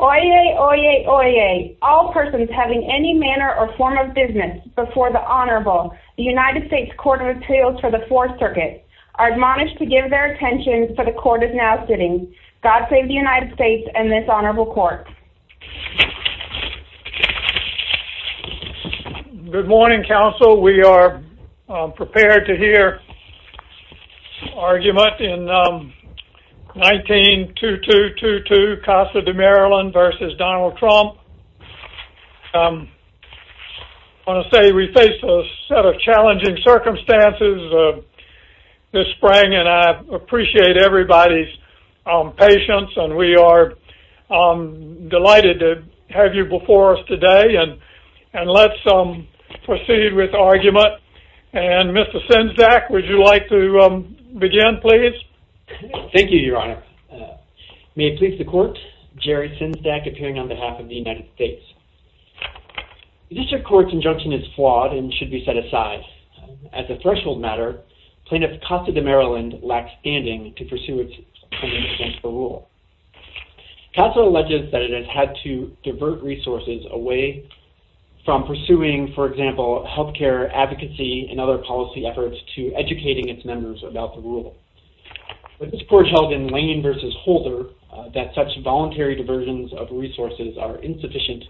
Oyez, oyez, oyez. All persons having any manner or form of business before the Honorable, the United States Court of Appeals for the Fourth Circuit, are admonished to give their attention, for the Court is now sitting. God save the United States and this Honorable Court. Good morning, counsel. We are prepared to hear argument in 19-2222, Casa De Maryland versus Donald Trump. I want to say we face a set of challenging circumstances this spring and I appreciate everybody's patience and we are delighted to have you before us today and let's proceed with argument and Mr. Sinzak, would you like to begin, please? Thank you, Your Honor. May it please the Court, Jerry Sinzak, appearing on behalf of the United States. The District Court's injunction is flawed and should be set aside. As a threshold matter, Plaintiff Casa De Maryland lacks standing to pursue its claim against the rule. Casa alleges that it has had to divert resources away from pursuing, for example, healthcare advocacy and other policy efforts to educating its members about the rule. This Court held in Lane versus Holder that such voluntary diversions of resources are insufficient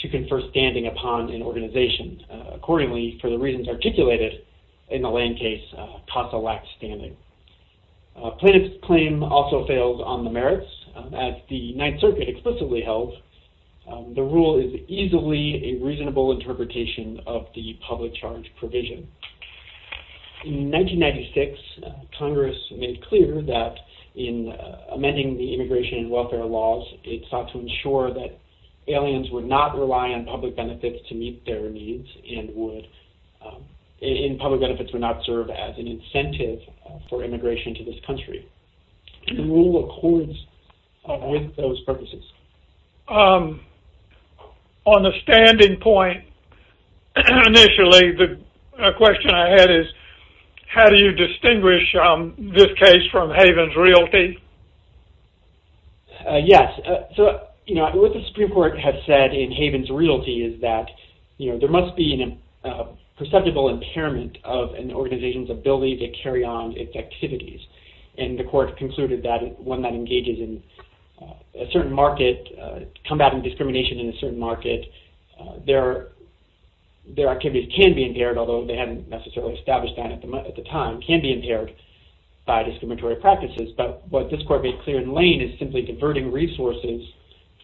to confer standing upon an organization. Accordingly, for the reasons articulated in the Lane case, Casa lacks standing. Plaintiff's claim also fails on the merits. As the Ninth Circuit explicitly held, the rule is easily a reasonable interpretation of the public charge provision. In 1996, Congress made clear that in amending the immigration and welfare laws, it sought to ensure that aliens would not rely on public benefits to meet their needs and public benefits would not serve as an incentive for immigration to this country. On the standing point, initially, the question I had is, how do you distinguish this case from Havens Realty? Yes. What the Supreme Court has said in Havens Realty is that there must be a perceptible impairment of an organization's ability to carry on its activities. And the Court concluded that one that engages in a certain market, combating discrimination in a certain market, their activities can be impaired, although they hadn't necessarily established that at the time, can be impaired by discriminatory practices. But what this Court made clear in Lane is simply diverting resources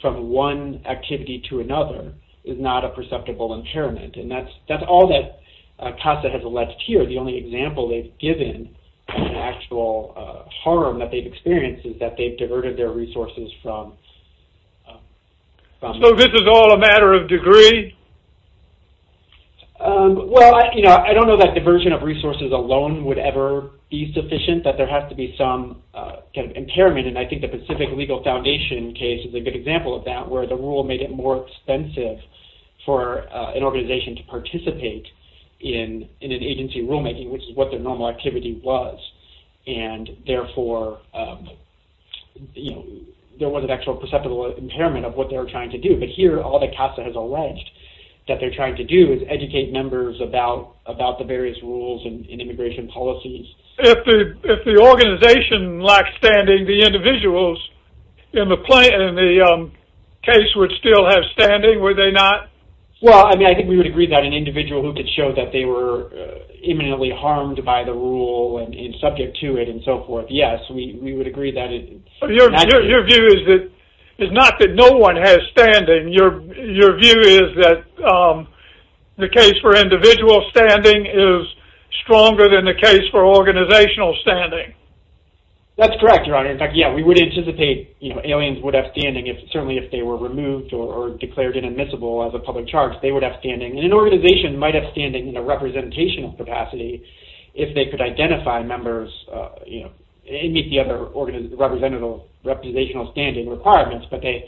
from one activity to another is not a perceptible impairment. And that's all that Casa has alleged here. The only example they've given of actual harm that they've experienced is that they've diverted their resources from... So this is all a matter of degree? Well, I don't know that diversion of resources alone would ever be sufficient, that there has to be some kind of impairment. And I think the Pacific Legal Foundation case is a good example of that, where the rule made it more expensive for an organization to participate in an agency rulemaking, which is what their normal activity was. And therefore, there was an actual perceptible impairment of what they were trying to do. But here, all that Casa has alleged that they're trying to do is educate members about the various rules and immigration policies. If the organization lacked standing, the individuals in the case would still have standing, would they not? Well, I mean, I think we would agree that an individual who could show that they were imminently harmed by the rule and subject to it and so forth, yes, we would agree that... Your view is not that no one has standing. Your view is that the case for individual standing is stronger than the case for organizational standing. That's correct, Your Honor. In fact, yeah, we would anticipate aliens would have standing, certainly if they were removed or declared inadmissible as a public charge, they would have standing. And an organization might have standing in a representational capacity if they could identify members and meet the other representational standing requirements. But they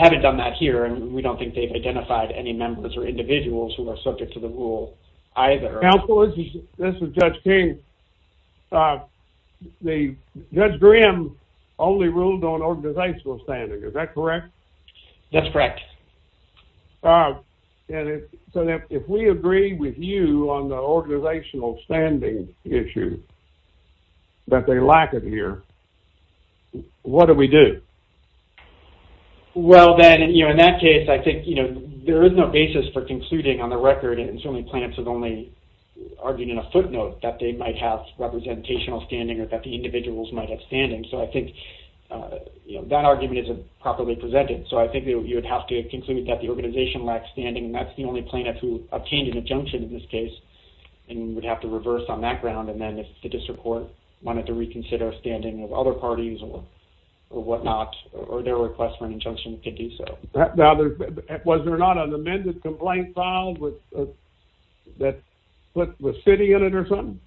haven't done that here, and we don't think they've identified any members or individuals who are subject to the rule either. Counsel, this is Judge King. Judge Grimm only ruled on organizational standing, is that correct? That's correct. So if we agree with you on the organizational standing issue, that they lack it here, what do we do? Well, then, in that case, I think there is no basis for concluding on the record, and certainly plaintiffs have only argued in a footnote that they might have representational standing or that the individuals might have standing. So I think that argument isn't properly presented. So I think you would have to conclude that the organization lacks standing, and that's the only plaintiff who obtained an injunction in this case and would have to reverse on that ground. And then if the district court wanted to reconsider standing of other parties or whatnot, or their request for an injunction, it could do so. Now, was there not an amended complaint filed that put the city in it or something?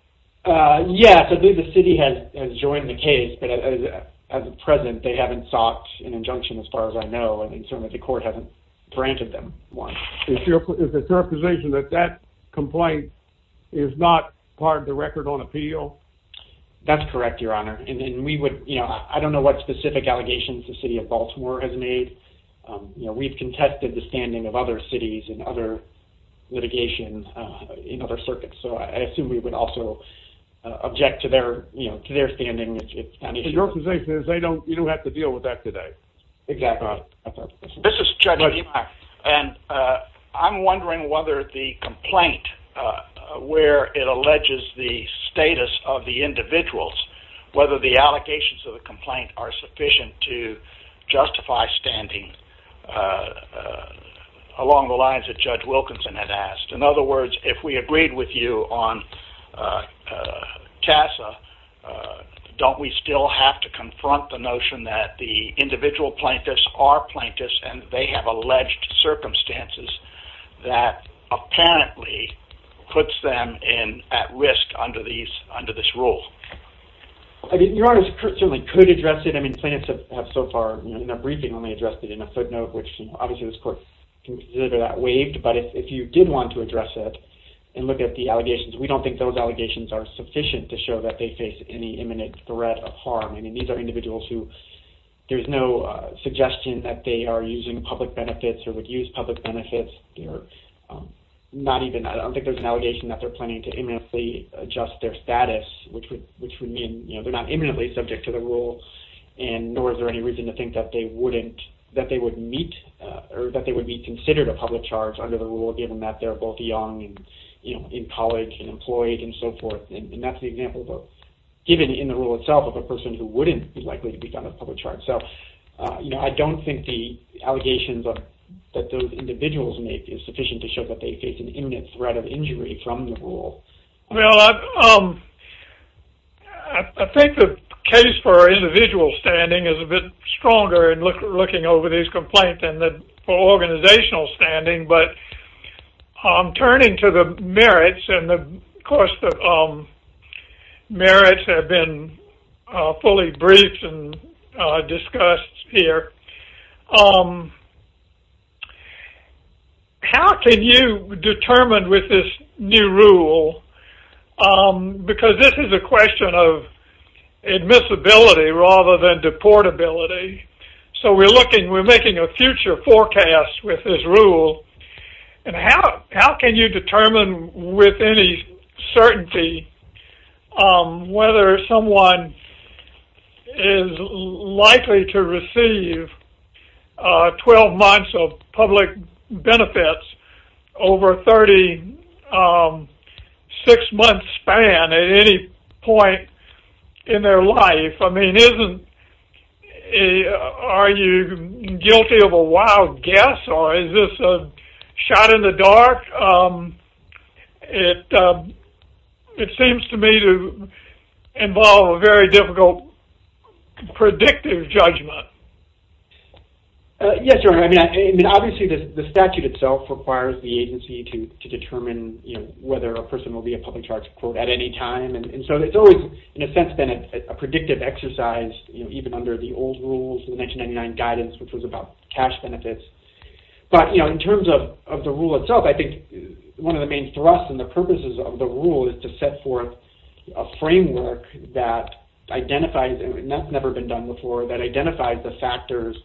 Yes, I believe the city has joined the case, but as of present, they haven't sought an injunction as far as I know, and certainly the court hasn't granted them one. Is it your position that that complaint is not part of the record on appeal? That's correct, Your Honor, and we would, you know, I don't know what specific allegations the city of Baltimore has made. You know, we've contested the standing of other cities and other litigation in other circuits, so I assume we would also object to their, you know, to their standing. Your position is you don't have to deal with that today. Exactly. This is Judge Edimeyer, and I'm wondering whether the complaint, where it alleges the status of the individuals, whether the allegations of the complaint are sufficient to justify standing along the lines that Judge Wilkinson had asked. In other words, if we agreed with you on CASA, don't we still have to confront the notion that the individual plaintiffs are plaintiffs, and they have alleged circumstances that apparently puts them at risk under this rule? I mean, Your Honor, certainly could address it. I mean, plaintiffs have so far, you know, in their briefing only addressed it in a footnote, which obviously this court can consider that waived, but if you did want to address it and look at the allegations, we don't think those allegations are sufficient to show that they face any imminent threat of harm. I mean, these are individuals who, there's no suggestion that they are using public benefits or would use public benefits. They're not even, I don't think there's an allegation that they're planning to imminently adjust their status, which would mean, you know, they're not imminently subject to the rule, and nor is there any reason to think that they wouldn't, that they would meet, or that they would be considered a public charge under the rule, given that they're both young and, you know, in college and employed and so forth. And that's the example, given in the rule itself, of a person who wouldn't be likely to be found a public charge. So, you know, I don't think the allegations that those individuals make is sufficient to show that they face an imminent threat of injury from the rule. Well, I think the case for individual standing is a bit stronger in looking over these complaints than for organizational standing, but turning to the merits, and, of course, the merits have been fully briefed and discussed here. How can you determine with this new rule, because this is a question of admissibility rather than deportability, so we're looking, we're making a future forecast with this rule, and how can you determine with any certainty whether someone is likely to receive 12 months of public benefits over a 36-month span at any point in their life? I mean, isn't, are you guilty of a wild guess, or is this a shot in the dark? It seems to me to involve a very difficult predictive judgment. Yes, you're right. I mean, obviously the statute itself requires the agency to determine, you know, whether a person will be a public charge at any time. And so it's always, in a sense, been a predictive exercise, you know, even under the old rules, the 1999 guidance, which was about cash benefits. But, you know, in terms of the rule itself, I think one of the main thrusts and the purposes of the rule is to set forth a framework that identifies, and that's never been done before, that identifies the factors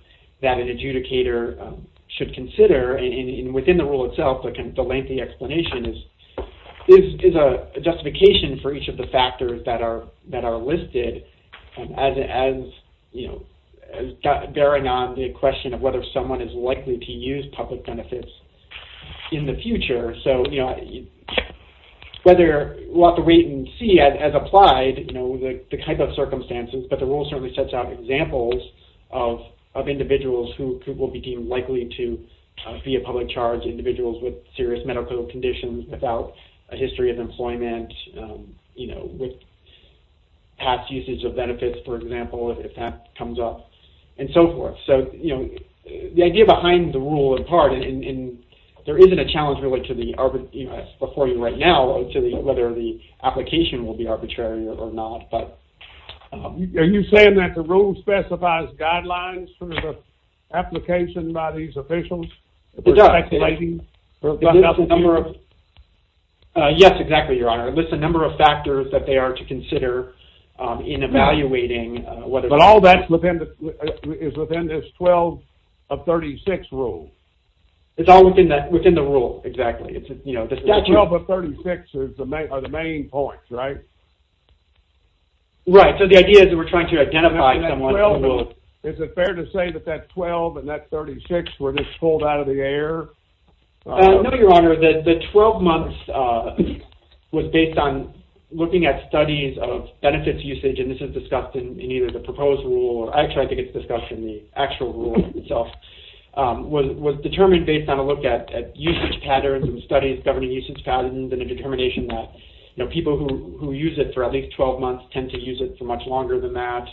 that an adjudicator should consider, and within the rule itself, the lengthy explanation is a justification for each of the factors that are listed, as, you know, bearing on the question of whether someone is likely to use public benefits in the future. So, you know, whether, we'll have to wait and see as applied, you know, the type of circumstances, but the rule certainly sets out examples of individuals who will be deemed likely to be a public charge, individuals with serious medical conditions without a history of employment, you know, with past usage of benefits, for example, if that comes up, and so forth. So, you know, the idea behind the rule, in part, and there isn't a challenge really to the, you know, to the, whether the application will be arbitrary or not, but. Are you saying that the rule specifies guidelines for the application by these officials? It does. Yes, exactly, Your Honor. It lists a number of factors that they are to consider in evaluating whether. But all that is within this 12 of 36 rule. It's all within the rule, exactly. It's, you know, the statute. That 12 of 36 are the main points, right? Right. So the idea is that we're trying to identify someone who will. Is it fair to say that that 12 and that 36 were just pulled out of the air? No, Your Honor. The 12 months was based on looking at studies of benefits usage, and this is discussed in either the proposed rule, or actually I think it's discussed in the actual rule itself. Was determined based on a look at usage patterns and studies governing usage patterns, and a determination that, you know, people who use it for at least 12 months tend to use it for much longer than that,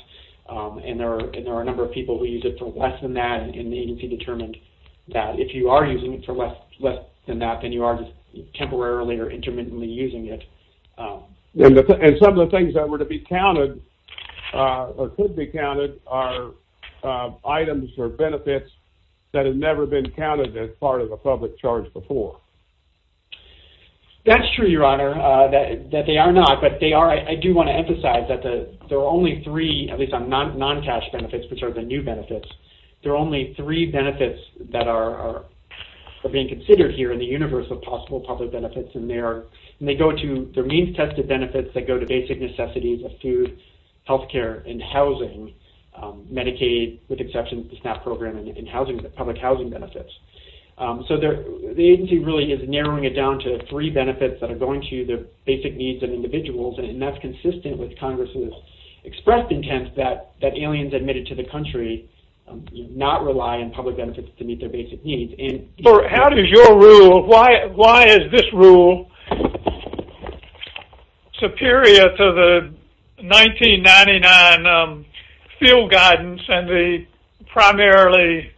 and there are a number of people who use it for less than that, and the agency determined that. If you are using it for less than that, then you are just temporarily or intermittently using it. And some of the things that were to be counted, or could be counted, are items or benefits that have never been counted as part of a public charge before. That's true, Your Honor, that they are not, but they are. I do want to emphasize that there are only three, at least on non-cash benefits, which are the new benefits, there are only three benefits that are being considered here in the universe of possible public benefits, and they go to the means-tested benefits that go to basic necessities of food, health care, and housing, Medicaid, with exception to the SNAP program, and public housing benefits. So the agency really is narrowing it down to three benefits that are going to the basic needs of individuals, and that's consistent with Congress's expressed intent that aliens admitted to the country not rely on public benefits to meet their basic needs. How does your rule, why is this rule superior to the 1999 field guidance and the primarily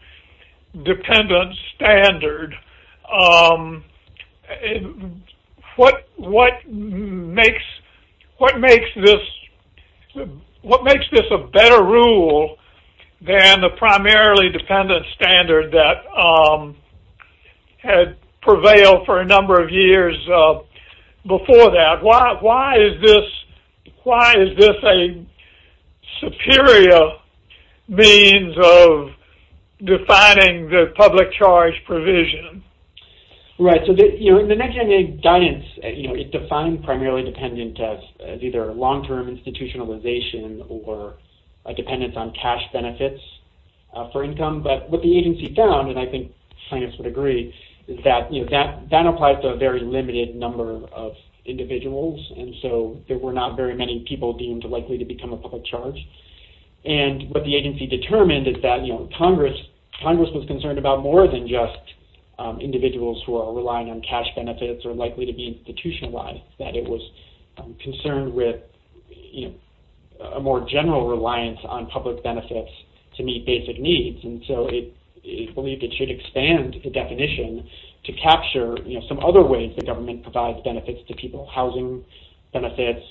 dependent standard? What makes this a better rule than the primarily dependent standard that had prevailed for a number of years before that? Why is this a superior means of defining the public charge provision? Right, so the 1998 guidance, it defined primarily dependent as either long-term institutionalization or a dependence on cash benefits for income, but what the agency found, and I think scientists would agree, is that that applies to a very limited number of individuals, and so there were not very many people deemed likely to become a public charge, and what the agency determined is that Congress was concerned about more than just individuals who are relying on cash benefits or likely to be institutionalized, that it was concerned with a more general reliance on public benefits to meet basic needs, and so it believed it should expand the definition to capture some other ways the government provides benefits to people, housing benefits,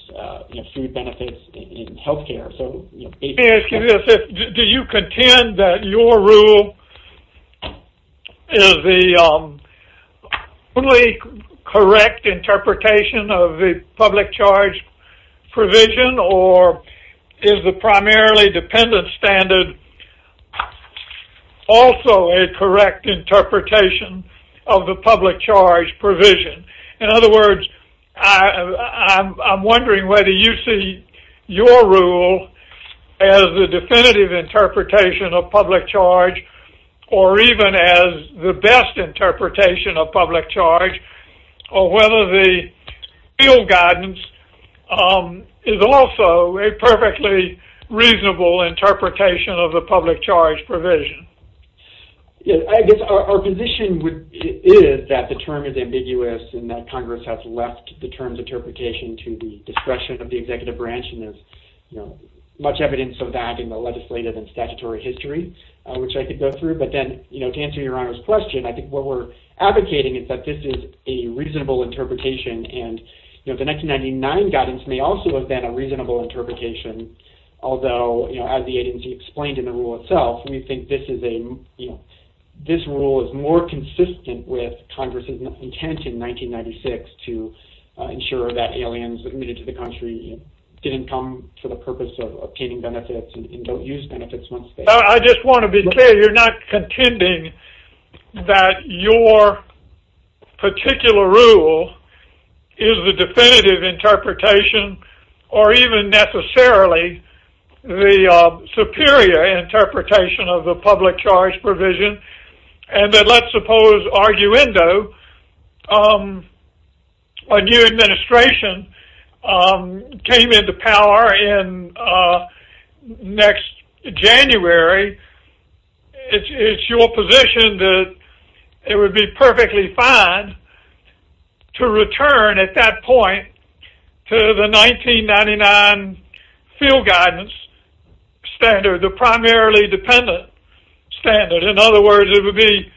food benefits, and health care. Excuse me, do you contend that your rule is the only correct interpretation of the public charge provision, or is the primarily dependent standard also a correct interpretation of the public charge provision? In other words, I'm wondering whether you see your rule as the definitive interpretation of public charge, or even as the best interpretation of public charge, or whether the real guidance is also a perfectly reasonable interpretation of the public charge provision. I guess our position is that the term is ambiguous, and that Congress has left the term's interpretation to the discretion of the executive branch, and there's much evidence of that in the legislative and statutory history, which I could go through, but then to answer your Honor's question, I think what we're advocating is that this is a reasonable interpretation, and the 1999 guidance may also have been a reasonable interpretation, although as the agency explained in the rule itself, we think this rule is more consistent with Congress's intent in 1996 to ensure that aliens admitted to the country didn't come for the purpose of obtaining benefits and don't use benefits once they have. I just want to be clear. You're not contending that your particular rule is the definitive interpretation, or even necessarily the superior interpretation of the public charge provision, and that let's suppose, arguendo, a new administration came into power in next January, it's your position that it would be perfectly fine to return at that point to the 1999 field guidance standard, the primarily dependent standard. In other words, it would be,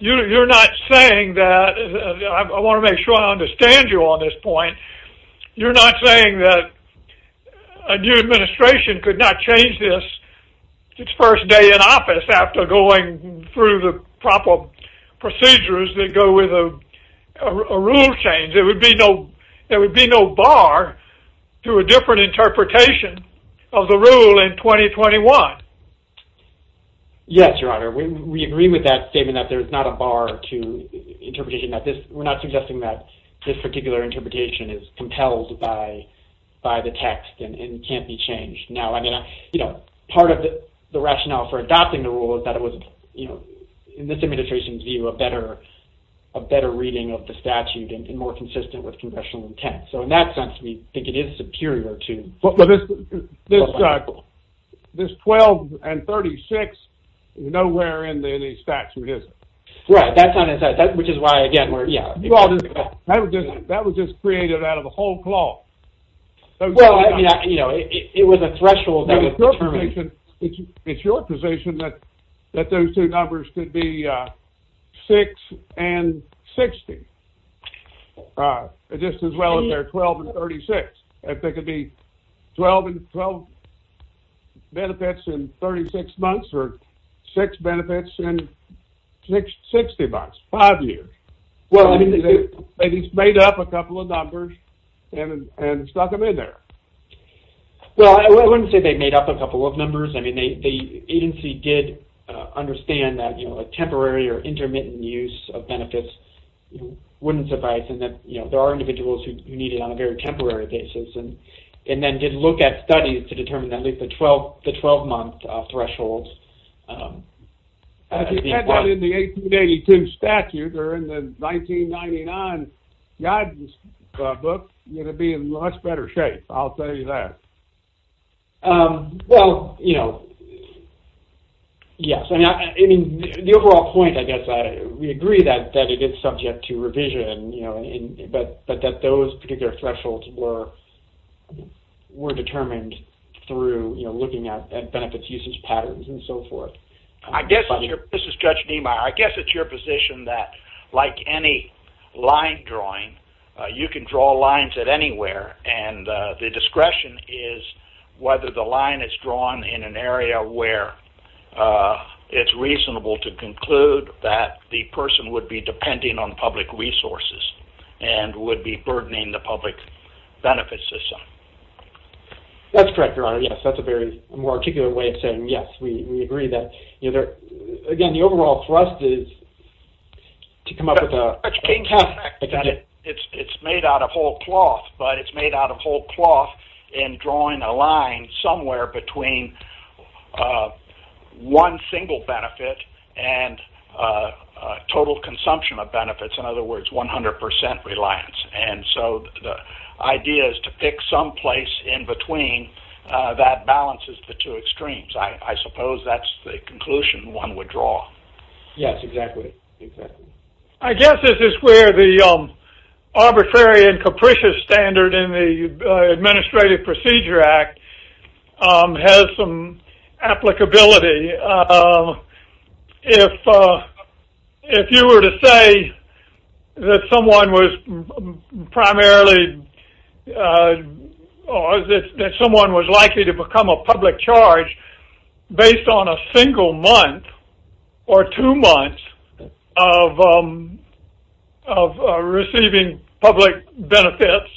you're not saying that, I want to make sure I understand you on this point, you're not saying that a new administration could not change this its first day in office after going through the proper procedures that go with a rule change. There would be no bar to a different interpretation of the rule in 2021. Yes, your honor, we agree with that statement that there is not a bar to interpretation, we're not suggesting that this particular interpretation is compelled by the text and can't be changed. Now, part of the rationale for adopting the rule is that it was, in this administration's view, a better reading of the statute and more consistent with congressional intent. So in that sense, we think it is superior to. This 12 and 36, nowhere in the statute is it. Right, that's not, which is why, again, we're, yeah. That was just created out of a whole cloth. Well, I mean, you know, it was a threshold that was determined. It's your position that those two numbers could be 6 and 60, just as well as their 12 and 36. If they could be 12 and 12 benefits in 36 months or six benefits in 60 months, five years. Well, I mean, they made up a couple of numbers and stuck them in there. Well, I wouldn't say they made up a couple of numbers. I mean, the agency did understand that, you know, a temporary or intermittent use of benefits wouldn't suffice and that, you know, there are individuals who need it on a very temporary basis and then did look at studies to determine at least the 12-month threshold. If you had that in the 1882 statute or in the 1999 guidance book, you'd be in much better shape, I'll tell you that. Well, you know, yes. I mean, the overall point, I guess, we agree that it is subject to revision, you know, but that those particular thresholds were determined through, you know, looking at benefits usage patterns and so forth. This is Judge Niemeyer. I guess it's your position that like any line drawing, you can draw lines at anywhere and the discretion is whether the line is drawn in an area where it's reasonable to conclude that the person would be depending on public resources and would be burdening the public benefit system. That's correct, Your Honor. Yes, that's a very more articulate way of saying yes. We agree that, you know, again, the overall thrust is to come up with a test. It's made out of whole cloth, but it's made out of whole cloth in drawing a line somewhere between one single benefit and total consumption of benefits. In other words, 100% reliance. And so the idea is to pick some place in between that balances the two extremes. I suppose that's the conclusion one would draw. Yes, exactly. I guess this is where the arbitrary and capricious standard in the Administrative Procedure Act has some applicability. If you were to say that someone was primarily or that someone was likely to become a public charge based on a single month or two months of receiving public benefits,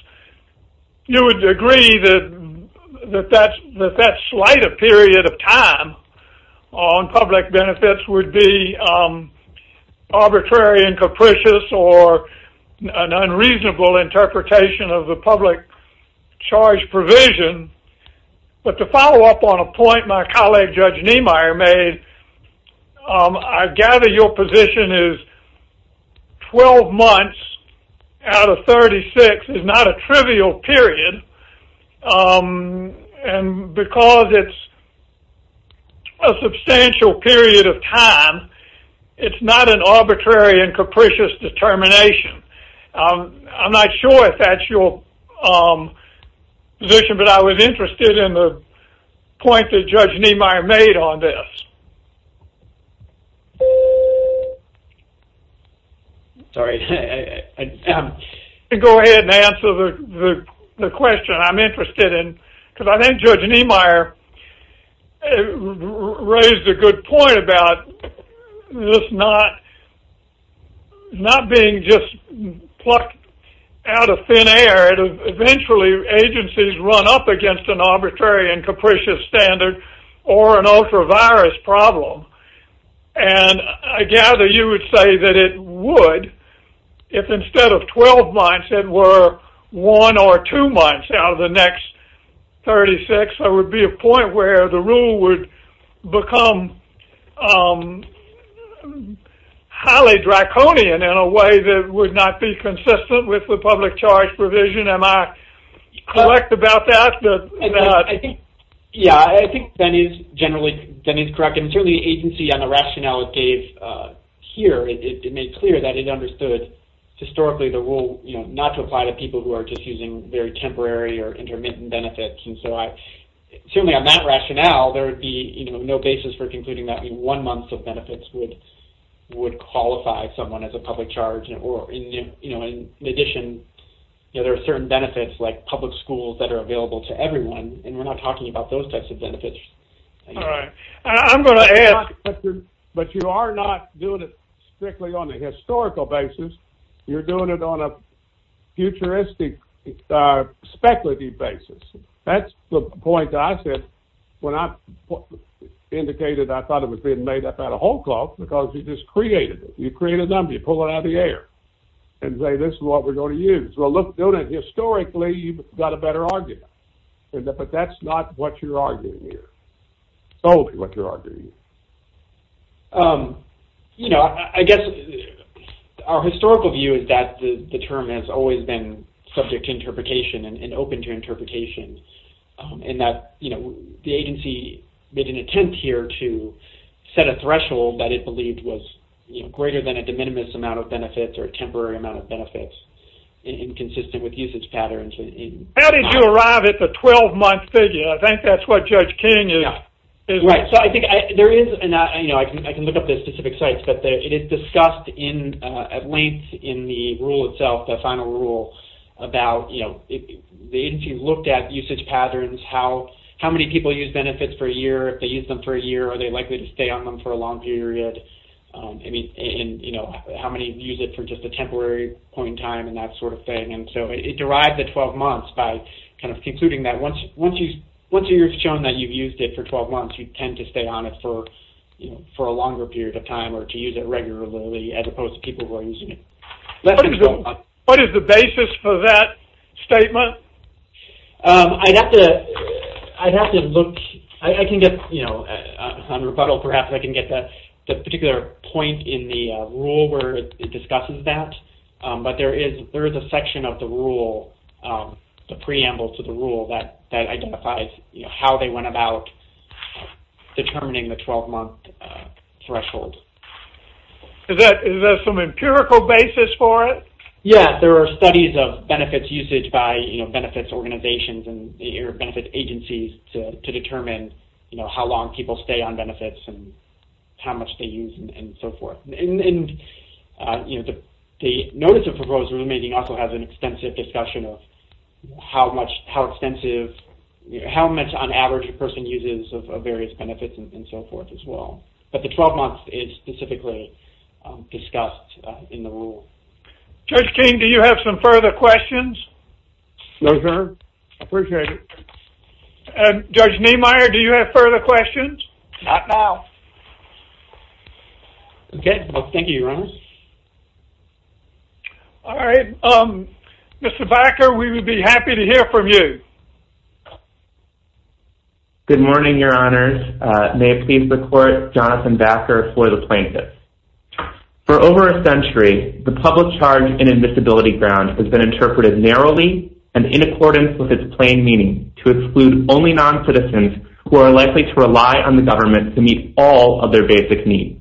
you would agree that that slight a period of time on public benefits would be arbitrary and capricious or an unreasonable interpretation of the public charge provision. But to follow up on a point my colleague Judge Niemeyer made, I gather your position is 12 months out of 36 is not a trivial period. And because it's a substantial period of time, it's not an arbitrary and capricious determination. I'm not sure if that's your position, but I was interested in the point that Judge Niemeyer made on this. Go ahead and answer the question I'm interested in, because I think Judge Niemeyer raised a good point about this not being just plucked out of thin air. Eventually, agencies run up against an arbitrary and capricious standard or an ultra-virus problem. And I gather you would say that it would if instead of 12 months, if it were one or two months out of the next 36, there would be a point where the rule would become highly draconian in a way that would not be consistent with the public charge provision. Am I correct about that? Yeah, I think that is generally correct. And certainly the agency on the rationale it gave here, it made clear that it understood historically the rule not to apply to people who are just using very temporary or intermittent benefits. And so certainly on that rationale, there would be no basis for concluding that one month of benefits would qualify someone as a public charge. In addition, there are certain benefits like public schools that are available to everyone, and we're not talking about those types of benefits. All right. I'm going to add... But you are not doing it strictly on a historical basis. You're doing it on a futuristic speculative basis. That's the point I said when I indicated I thought it was being made up out of whole cloth because you just created it. You created them, you pull it out of the air and say this is what we're going to use. Well, look, doing it historically, you've got a better argument. But that's not what you're arguing here. Totally what you're arguing. You know, I guess our historical view is that the term has always been subject to interpretation and open to interpretation in that, you know, the agency made an attempt here to set a threshold that it believed was greater than a de minimis amount of benefits or a temporary amount of benefits and consistent with usage patterns. How did you arrive at the 12-month figure? I think that's what Judge King is... Right. So I think there is, you know, I can look up the specific sites, but it is discussed at length in the rule itself, the final rule, about, you know, the agency looked at usage patterns, how many people use benefits for a year, if they use them for a year, are they likely to stay on them for a long period, and, you know, how many use it for just a temporary point in time and that sort of thing. And so it derived the 12 months by kind of concluding that once you've shown that you've used it for 12 months, you tend to stay on it for a longer period of time or to use it regularly as opposed to people who are using it less than 12 months. What is the basis for that statement? I'd have to look. I can get, you know, on rebuttal perhaps I can get the particular point in the rule where it discusses that, but there is a section of the rule, the preamble to the rule that identifies, you know, how they went about determining the 12-month threshold. Is there some empirical basis for it? Yeah, there are studies of benefits usage by, you know, benefits organizations and benefit agencies to determine, you know, how long people stay on benefits and how much they use and so forth. And, you know, the Notice of Proposed Room Meeting also has an extensive discussion of how much, how extensive, how much on average a person uses of various benefits and so forth as well. But the 12 months is specifically discussed in the rule. Judge King, do you have some further questions? No, sir. Appreciate it. Judge Niemeyer, do you have further questions? Not now. Okay. Well, thank you, Your Honors. All right. Mr. Backer, we would be happy to hear from you. Good morning, Your Honors. May it please the Court, Jonathan Backer for the plaintiffs. For over a century, the public charge in admissibility grounds has been interpreted narrowly and in accordance with its plain meaning to exclude only noncitizens who are likely to rely on the government to meet all of their basic needs.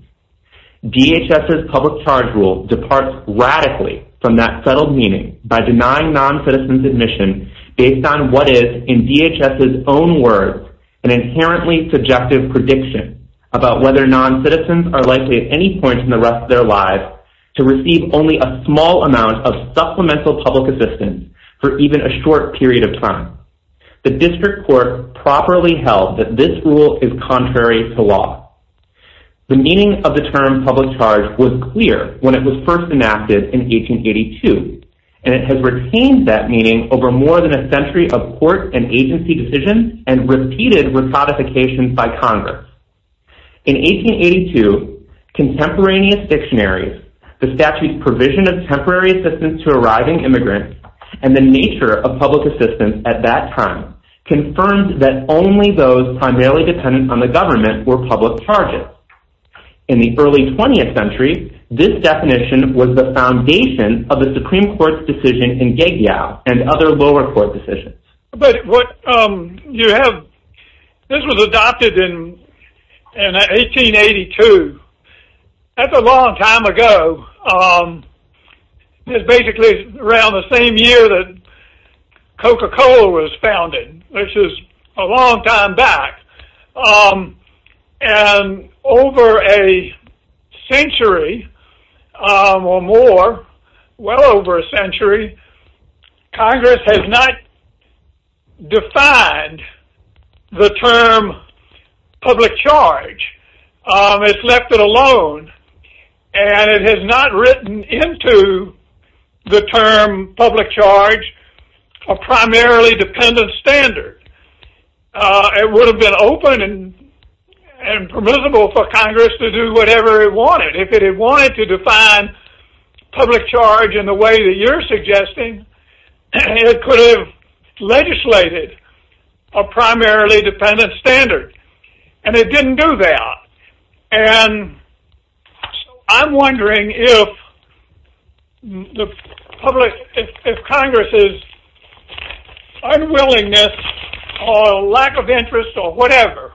DHS's public charge rule departs radically from that settled meaning by denying noncitizens admission based on what is, in DHS's own words, an inherently subjective prediction about whether noncitizens are likely at any point in the rest of their lives to receive only a small amount of supplemental public assistance for even a short period of time. The district court properly held that this rule is contrary to law. The meaning of the term public charge was clear when it was first enacted in 1882, and it has retained that meaning over more than a century of court and agency decisions and repeated recodifications by Congress. In 1882, contemporaneous dictionaries, the statute's provision of temporary assistance to arriving immigrants, and the nature of public assistance at that time, confirmed that only those primarily dependent on the government were public charges. In the early 20th century, this definition was the foundation of the Supreme Court's decision in Gagow and other lower court decisions. But what you have, this was adopted in 1882. That's a long time ago. It's basically around the same year that Coca-Cola was founded, which is a long time back. And over a century or more, well over a century, Congress has not defined the term public charge. It's left it alone. And it has not written into the term public charge a primarily dependent standard. It would have been open and permissible for Congress to do whatever it wanted. If it had wanted to define public charge in the way that you're suggesting, it could have legislated a primarily dependent standard. And it didn't do that. And I'm wondering if Congress's unwillingness or lack of interest or whatever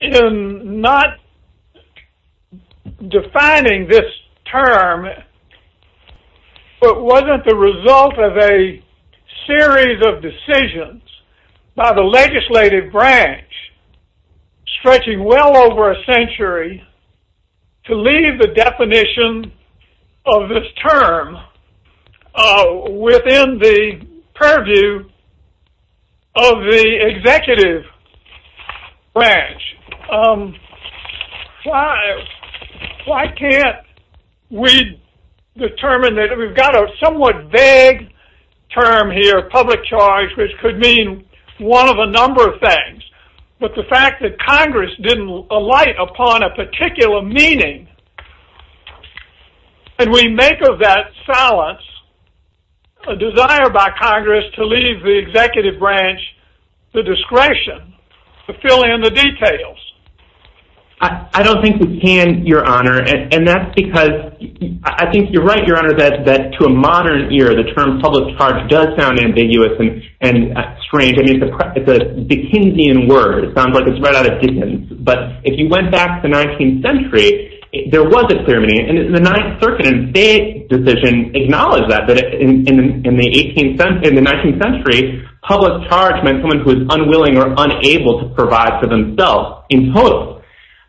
in not defining this term wasn't the result of a series of decisions by the legislative branch stretching well over a century to leave the definition of this term within the purview of the executive branch. Why can't we determine that we've got a somewhat vague term here, public charge, which could mean one of a number of things. But the fact that Congress didn't alight upon a particular meaning and we make of that silence a desire by Congress to leave the executive branch the discretion to fill in the details. I don't think we can, Your Honor. And that's because I think you're right, Your Honor, that to a modern ear, the term public charge does sound ambiguous and strange. I mean, it's a Dickensian word. It sounds like it's right out of Dickens. But if you went back to the 19th century, there was a clear meaning. And the Ninth Circuit in their decision acknowledged that, that in the 19th century, public charge meant someone who was unwilling or unable to provide for themselves in total.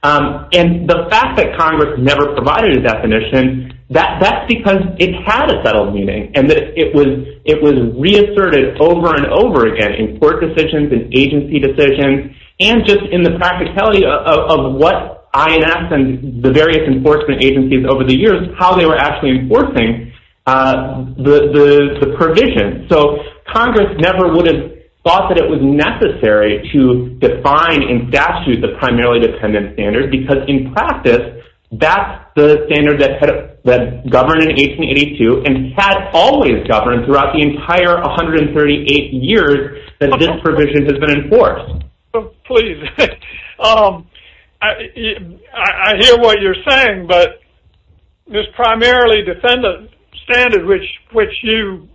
And the fact that Congress never provided a definition, that's because it had a settled meaning and that it was reasserted over and over again in court decisions and agency decisions and just in the practicality of what INS and the various enforcement agencies over the years, how they were actually enforcing the provision. So Congress never would have thought that it was necessary to define and statute the primarily dependent standards because in practice, that's the standard that governed in 1882 and had always governed throughout the entire 138 years that this provision has been enforced. Please. I hear what you're saying, but this primarily dependent standard which you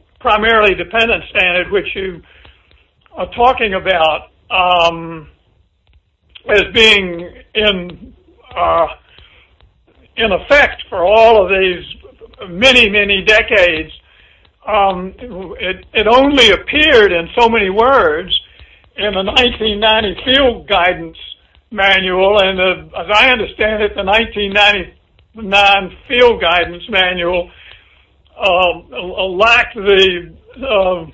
are talking about as being in effect for all of these many, many decades, it only appeared in so many words in the 1990 Field Guidance Manual. And as I understand it, the 1999 Field Guidance Manual lacked the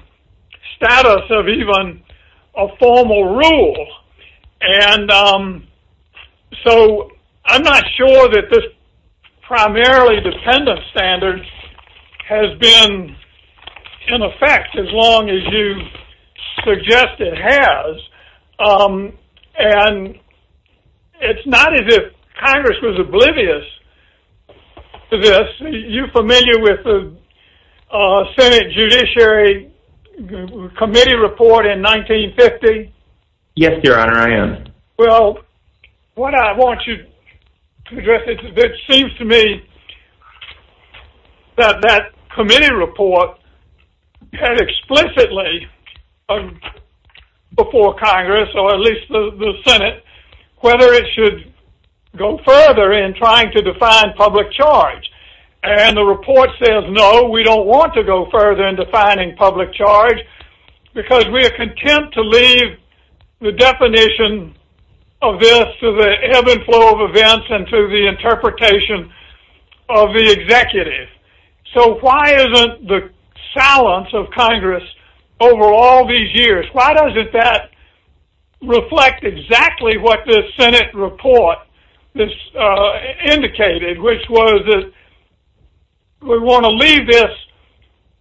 status of even a formal rule. And so I'm not sure that this primarily dependent standard has been in effect as long as you suggest it has. And it's not as if Congress was oblivious to this. Are you familiar with the Senate Judiciary Committee Report in 1950? Yes, Your Honor, I am. Well, what I want you to address, it seems to me that that committee report had explicitly before Congress, or at least the Senate, whether it should go further in trying to define public charge. And the report says no, we don't want to go further in defining public charge because we are content to leave the definition of this to the ebb and flow of events and to the interpretation of the executive. So why isn't the silence of Congress over all these years, why doesn't that reflect exactly what this Senate report indicated, which was that we want to leave this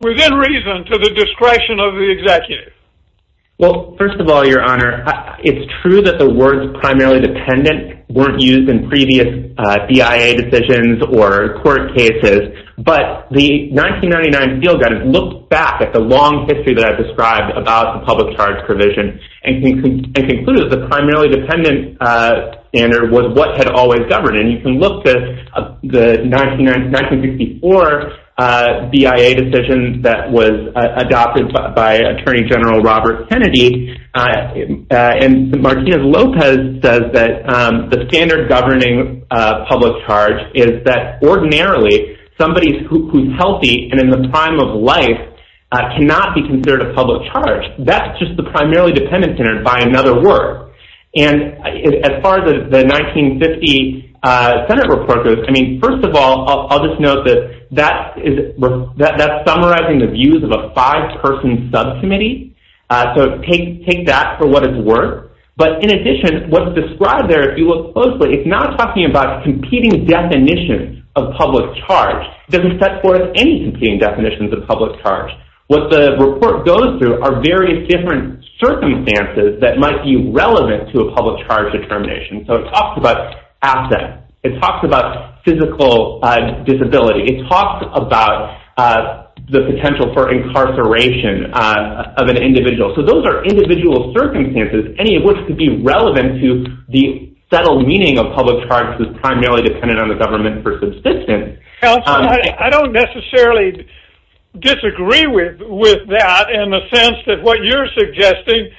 within reason to the discretion of the executive? Well, first of all, Your Honor, it's true that the words primarily dependent weren't used in previous BIA decisions or court cases. But the 1999 Field Guidance looked back at the long history that I've described about the public charge provision and concluded that the primarily dependent standard was what had always governed. And you can look at the 1964 BIA decision that was adopted by Attorney General Robert Kennedy. And Martinez-Lopez says that the standard governing public charge is that ordinarily, somebody who's healthy and in the prime of life cannot be considered a public charge. That's just the primarily dependent standard by another word. And as far as the 1950 Senate report goes, I mean, first of all, I'll just note that that's summarizing the views of a five-person subcommittee. So take that for what it's worth. But in addition, what's described there, if you look closely, it's not talking about competing definitions of public charge. It doesn't set forth any competing definitions of public charge. What the report goes through are various different circumstances that might be relevant to a public charge determination. So it talks about assets. It talks about physical disability. It talks about the potential for incarceration of an individual. So those are individual circumstances, any of which could be relevant to the settled meaning of public charge because it's primarily dependent on the government for subsistence. I don't necessarily disagree with that in the sense that what you're suggesting,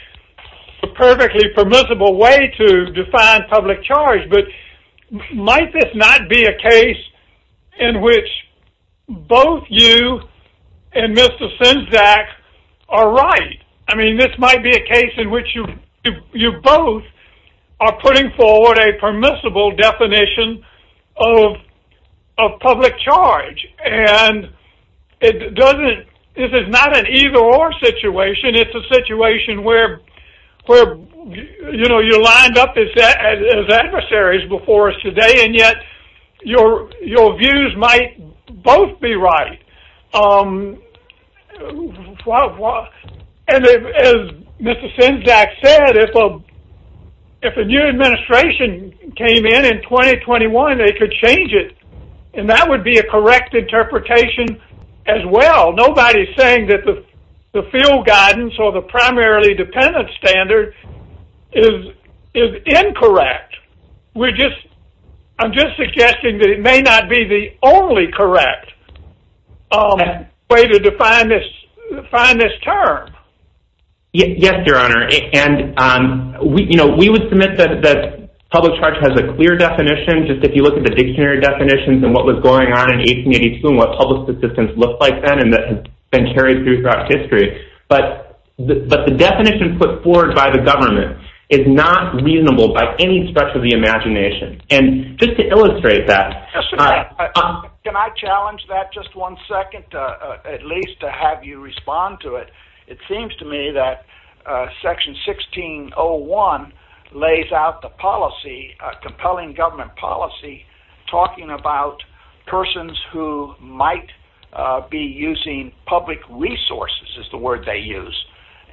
a perfectly permissible way to define public charge. But might this not be a case in which both you and Mr. Senczak are right? I mean, this might be a case in which you both are putting forward a permissible definition of public charge. And it doesn't – this is not an either-or situation. It's a situation where, you know, you're lined up as adversaries before us today, and yet your views might both be right. And as Mr. Senczak said, if a new administration came in in 2021, they could change it. And that would be a correct interpretation as well. Nobody is saying that the field guidance or the primarily dependent standard is incorrect. We're just – I'm just suggesting that it may not be the only correct way to define this term. Yes, Your Honor. And, you know, we would submit that public charge has a clear definition, just if you look at the dictionary definitions and what was going on in 1882 and what public subsistence looked like then, and that has been carried through throughout history. But the definition put forward by the government is not reasonable by any stretch of the imagination. And just to illustrate that – Can I challenge that just one second at least to have you respond to it? It seems to me that Section 1601 lays out the policy, compelling government policy, talking about persons who might be using public resources is the word they use,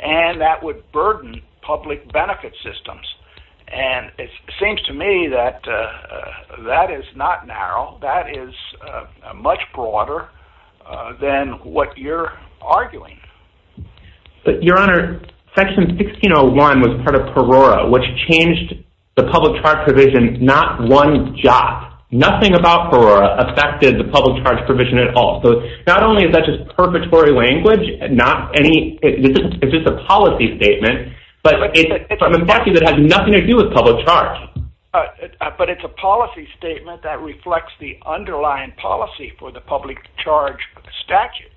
and that would burden public benefit systems. And it seems to me that that is not narrow. That is much broader than what you're arguing. Your Honor, Section 1601 was part of Perora, which changed the public charge provision not one jot. Nothing about Perora affected the public charge provision at all. So not only is that just purgatory language, it's just a policy statement, but it's a policy that has nothing to do with public charge. But it's a policy statement that reflects the underlying policy for the public charge statute.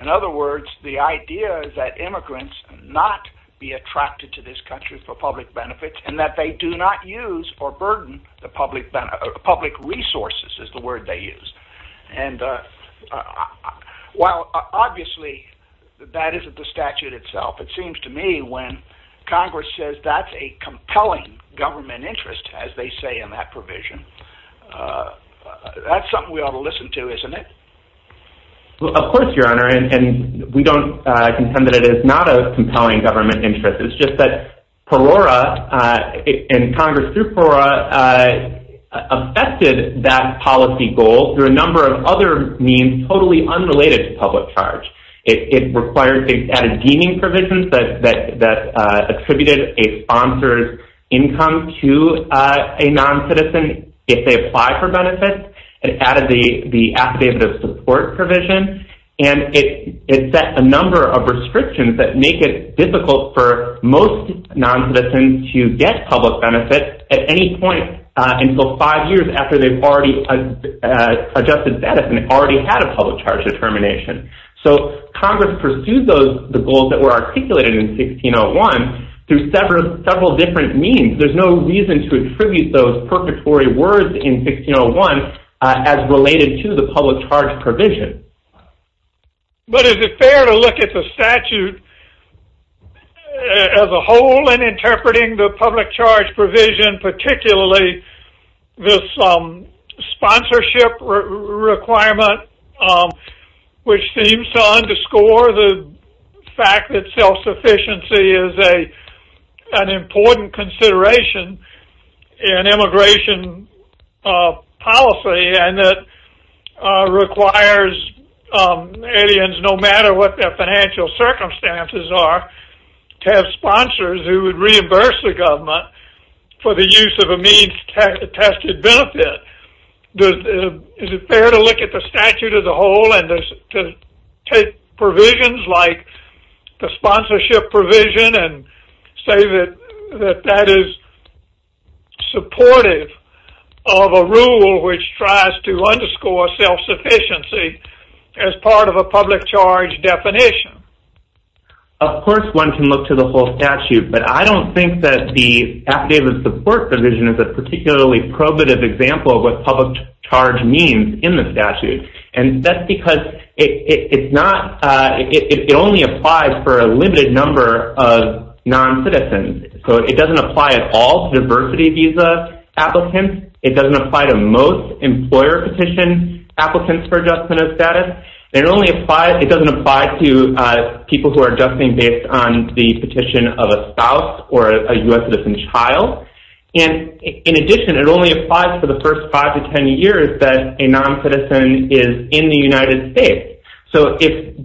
In other words, the idea is that immigrants not be attracted to this country for public benefit and that they do not use or burden the public resources is the word they use. And while obviously that isn't the statute itself, it seems to me when Congress says that's a compelling government interest, as they say in that provision, that's something we ought to listen to, isn't it? Of course, Your Honor, and we don't contend that it is not a compelling government interest. It's just that Perora and Congress through Perora affected that policy goal through a number of other means totally unrelated to public charge. It added deeming provisions that attributed a sponsor's income to a non-citizen if they apply for benefits. It added the affidavit of support provision. And it set a number of restrictions that make it difficult for most non-citizens to get public benefit at any point until five years after they've already adjusted status and already had a public charge determination. So Congress pursued the goals that were articulated in 1601 through several different means. There's no reason to attribute those purgatory words in 1601 as related to the public charge provision. But is it fair to look at the statute as a whole in interpreting the public charge provision, particularly this sponsorship requirement, which seems to underscore the fact that self-sufficiency is an important consideration in immigration policy and that requires aliens, no matter what their financial circumstances are, to have sponsors who would reimburse the government for the use of a means-tested benefit? Is it fair to look at the statute as a whole and to take provisions like the sponsorship provision and say that that is supportive of a rule which tries to underscore self-sufficiency as part of a public charge definition? Of course one can look to the whole statute, but I don't think that the Affidavit of Support provision is a particularly probative example of what public charge means in the statute. And that's because it only applies for a limited number of non-citizens. So it doesn't apply at all to diversity visa applicants. It doesn't apply to most employer petition applicants for adjustment of status. It doesn't apply to people who are adjusting based on the petition of a spouse or a U.S. citizen child. And in addition, it only applies for the first five to ten years that a non-citizen is in the United States. So if,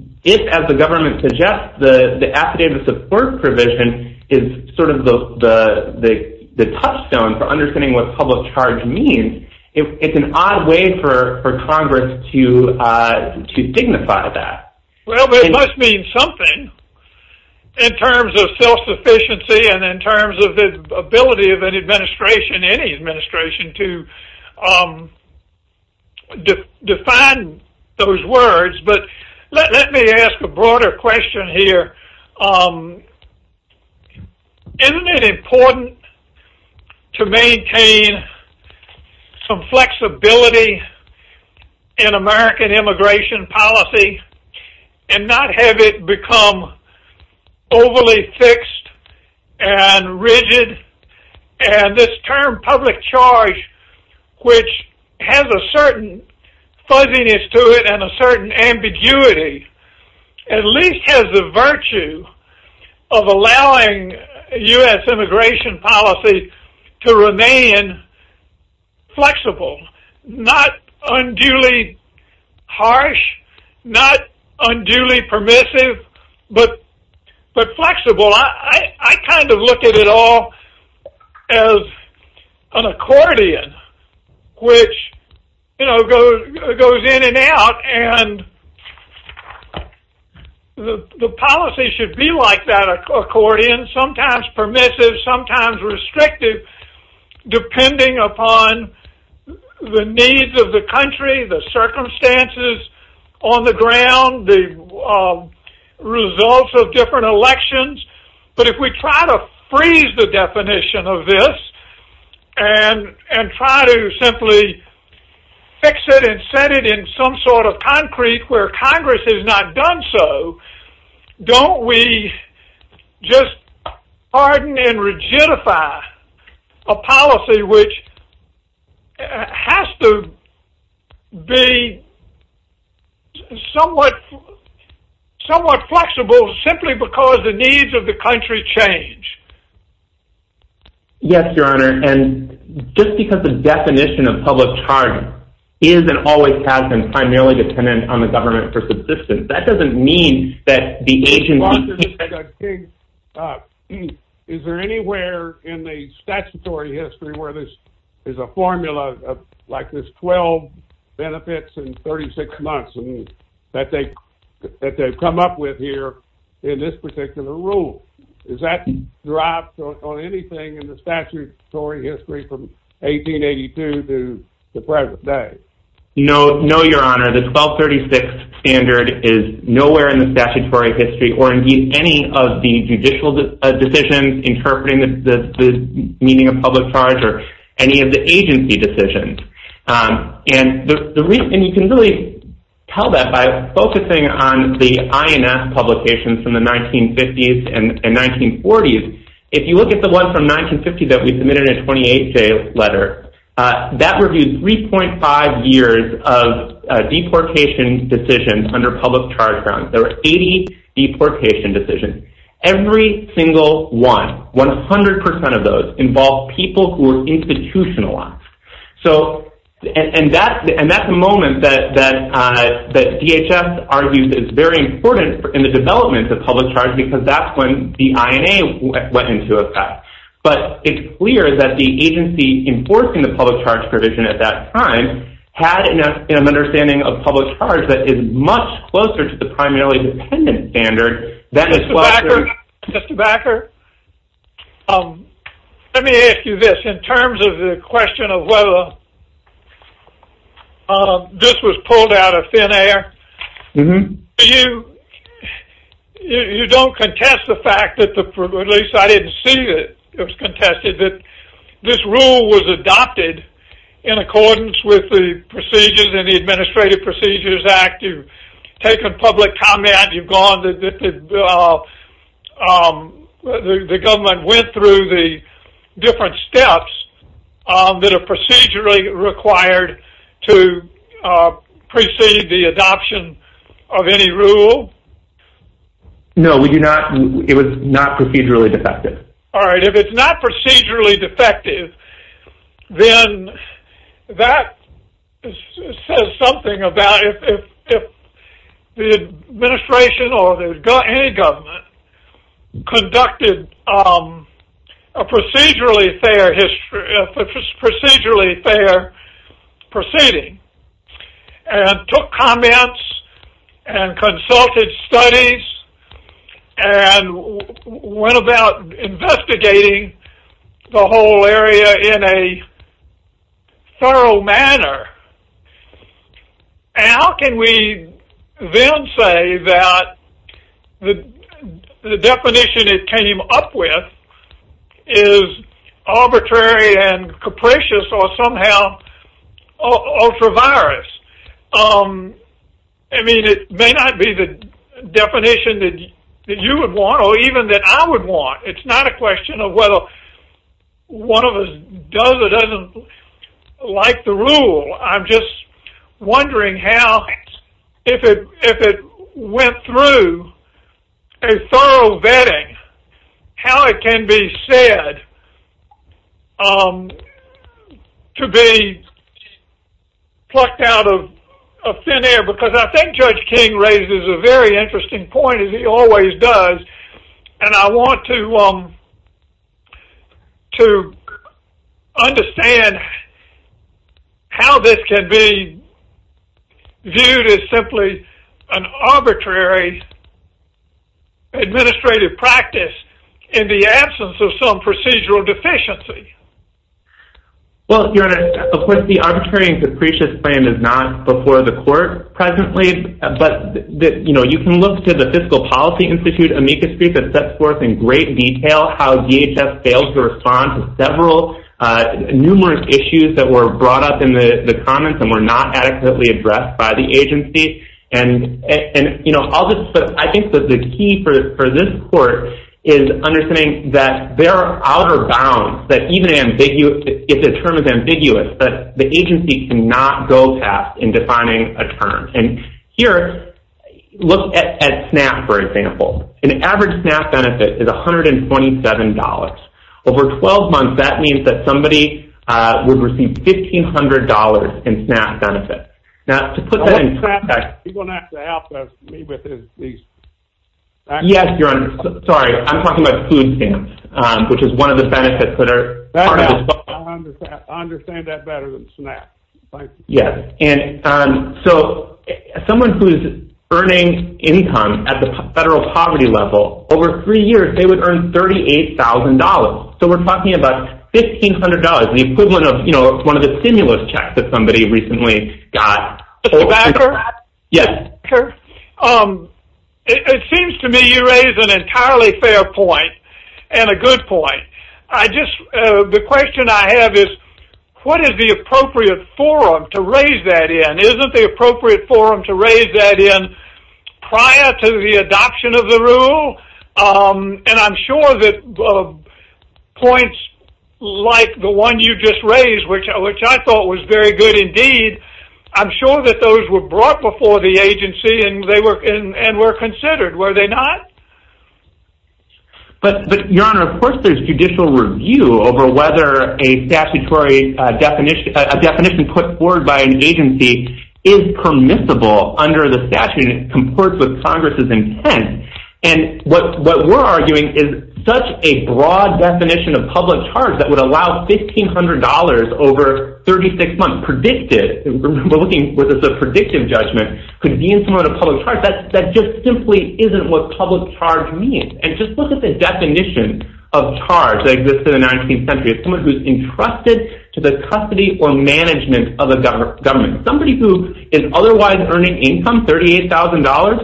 as the government suggests, the Affidavit of Support provision is sort of the touchstone for understanding what public charge means, it's an odd way for Congress to dignify that. Well, it must mean something in terms of self-sufficiency and in terms of the ability of an administration, any administration, to define those words. But let me ask a broader question here. Isn't it important to maintain some flexibility in American immigration policy and not have it become overly fixed and rigid? And this term public charge, which has a certain fuzziness to it and a certain ambiguity, at least has the virtue of allowing U.S. immigration policy to remain flexible, not unduly harsh, not unduly permissive, but flexible. I kind of look at it all as an accordion, which goes in and out, and the policy should be like that accordion, sometimes permissive, sometimes restrictive, depending upon the needs of the country, the circumstances on the ground, the results of different elections. But if we try to freeze the definition of this and try to simply fix it and set it in some sort of concrete where Congress has not done so, don't we just harden and rigidify a policy which has to be somewhat flexible simply because the needs of the country change? Yes, Your Honor. And just because the definition of public charge is and always has been primarily dependent on the government for subsistence, that doesn't mean that the agency... Is there anywhere in the statutory history where there's a formula like this 12 benefits in 36 months that they've come up with here in this particular rule? Has that dropped on anything in the statutory history from 1882 to the present day? No, Your Honor. The 1236 standard is nowhere in the statutory history or indeed any of the judicial decisions interpreting the meaning of public charge or any of the agency decisions. And you can really tell that by focusing on the INS publications from the 1950s and 1940s. If you look at the one from 1950 that we submitted in a 28-day letter, that reviewed 3.5 years of deportation decisions under public charge grounds. There were 80 deportation decisions. Every single one, 100% of those, involved people who were institutionalized. And that's a moment that DHS argues is very important in the development of public charge because that's when the INA went into effect. But it's clear that the agency enforcing the public charge provision at that time had an understanding of public charge that is much closer to the primarily dependent standard... Mr. Backer, let me ask you this. In terms of the question of whether this was pulled out of thin air, you don't contest the fact that, at least I didn't see that it was contested, that this rule was adopted in accordance with the procedures in the Administrative Procedures Act. You've taken public comment. You've gone... The government went through the different steps that are procedurally required to precede the adoption of any rule? No, we do not... It was not procedurally defective. All right, if it's not procedurally defective, then that says something about... If the administration or any government conducted a procedurally fair proceeding and took comments and consulted studies and went about investigating the whole area in a thorough manner, how can we then say that the definition it came up with is arbitrary and capricious or somehow ultra-virus? I mean, it may not be the definition that you would want or even that I would want. It's not a question of whether one of us does or doesn't like the rule. I'm just wondering how, if it went through a thorough vetting, how it can be said to be plucked out of thin air, because I think Judge King raises a very interesting point, as he always does, and I want to understand how this can be viewed as simply an arbitrary administrative practice in the absence of some procedural deficiency. Well, Your Honor, of course, the arbitrary and capricious claim is not before the court presently, but you can look to the Fiscal Policy Institute amicus brief that sets forth in great detail how DHS failed to respond to several numerous issues that were brought up in the comments and were not adequately addressed by the agency. I think that the key for this court is understanding that there are outer bounds, that even if a term is ambiguous, the agency cannot go past in defining a term. And here, look at SNAP, for example. An average SNAP benefit is $127. Over 12 months, that means that somebody would receive $1,500 in SNAP benefits. Now, to put that in context... You're going to have to help me with these... Yes, Your Honor. Sorry, I'm talking about food stamps, which is one of the benefits that are part of this... I understand that better than SNAP. Yes, and so someone who is earning income at the federal poverty level, over three years, they would earn $38,000. So we're talking about $1,500, the equivalent of one of the stimulus checks that somebody recently got. Mr. Backer? Yes. It seems to me you raise an entirely fair point and a good point. I just... Isn't the appropriate forum to raise that in? Isn't the appropriate forum to raise that in prior to the adoption of the rule? And I'm sure that points like the one you just raised, which I thought was very good indeed, I'm sure that those were brought before the agency and were considered. Were they not? But, Your Honor, of course there's judicial review over whether a statutory definition, a definition put forward by an agency, is permissible under the statute and it comports with Congress's intent. And what we're arguing is such a broad definition of public charge that would allow $1,500 over 36 months predicted, we're looking at this as a predictive judgment, could be insurmountable to public charge, that just simply isn't what public charge means. And just look at the definition of charge that exists in the 19th century. It's someone who's entrusted to the custody or management of a government. Somebody who is otherwise earning income, $38,000,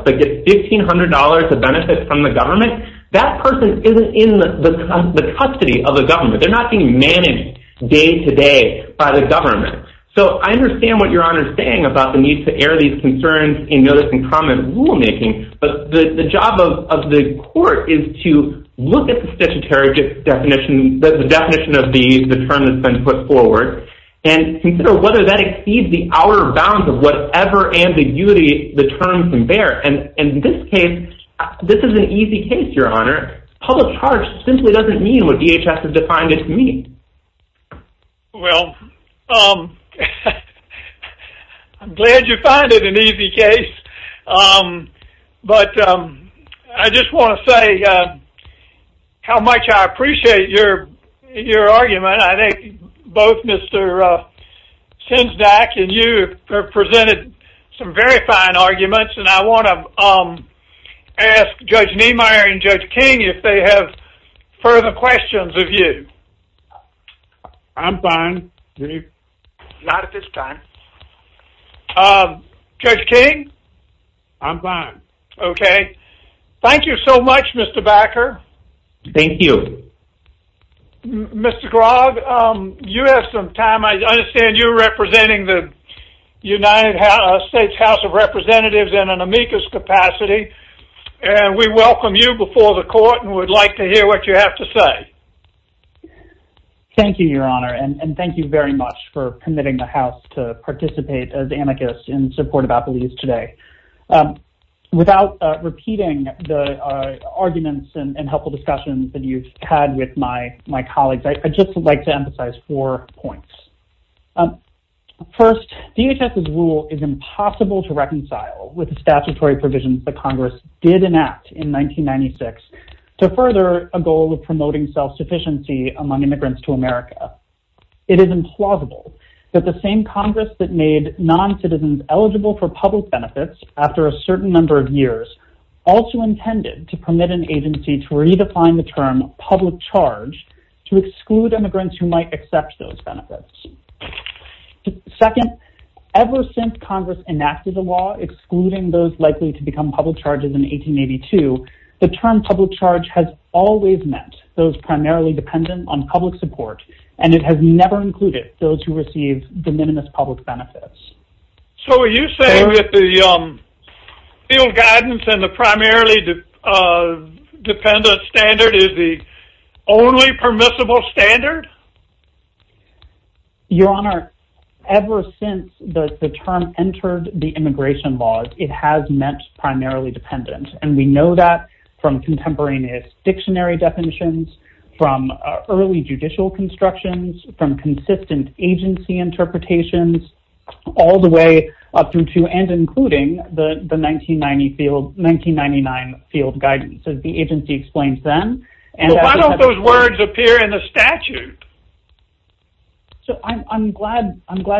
but gets $1,500 of benefits from the government, that person isn't in the custody of a government. They're not being managed day-to-day by the government. So I understand what Your Honor is saying about the need to air these concerns in notice-and-comment rulemaking, but the job of the court is to look at the statutory definition of these, the term that's been put forward, and consider whether that exceeds the outer bounds of whatever ambiguity the term can bear. And in this case, this is an easy case, Your Honor. Public charge simply doesn't mean what DHS has defined it to mean. Well, I'm glad you find it an easy case, but I just want to say how much I appreciate your argument. I think both Mr. Sinzdak and you have presented some very fine arguments, and I want to ask Judge Niemeyer and Judge King if they have further questions of you. I'm fine. Not at this time. Judge King? I'm fine. Okay. Thank you so much, Mr. Backer. Thank you. Mr. Grogg, you have some time. I understand you're representing the United States House of Representatives in an amicus capacity, and we welcome you before the court and would like to hear what you have to say. Thank you, Your Honor, and thank you very much for permitting the House to participate as amicus in support of appeals today. Without repeating the arguments and helpful discussions that you've had with my colleagues, I'd just like to emphasize four points. First, DHS's rule is impossible to reconcile with the statutory provisions that Congress did enact in 1996 to further a goal of promoting self-sufficiency among immigrants to America. It is implausible that the same Congress that made noncitizens eligible for public benefits after a certain number of years also intended to permit an agency to redefine the term public charge to exclude immigrants who might accept those benefits. Second, ever since Congress enacted the law excluding those likely to become public charges in 1882, the term public charge has always meant those primarily dependent on public support, and it has never included those who received de minimis public benefits. So are you saying that the field guidance and the primarily dependent standard is the only permissible standard? Your Honor, ever since the term entered the immigration laws, it has meant primarily dependent, and we know that from contemporaneous dictionary definitions, from early judicial constructions, from consistent agency interpretations, all the way up through to and including the 1999 field guidance, as the agency explains then. But why don't those words appear in the statute? So I'm glad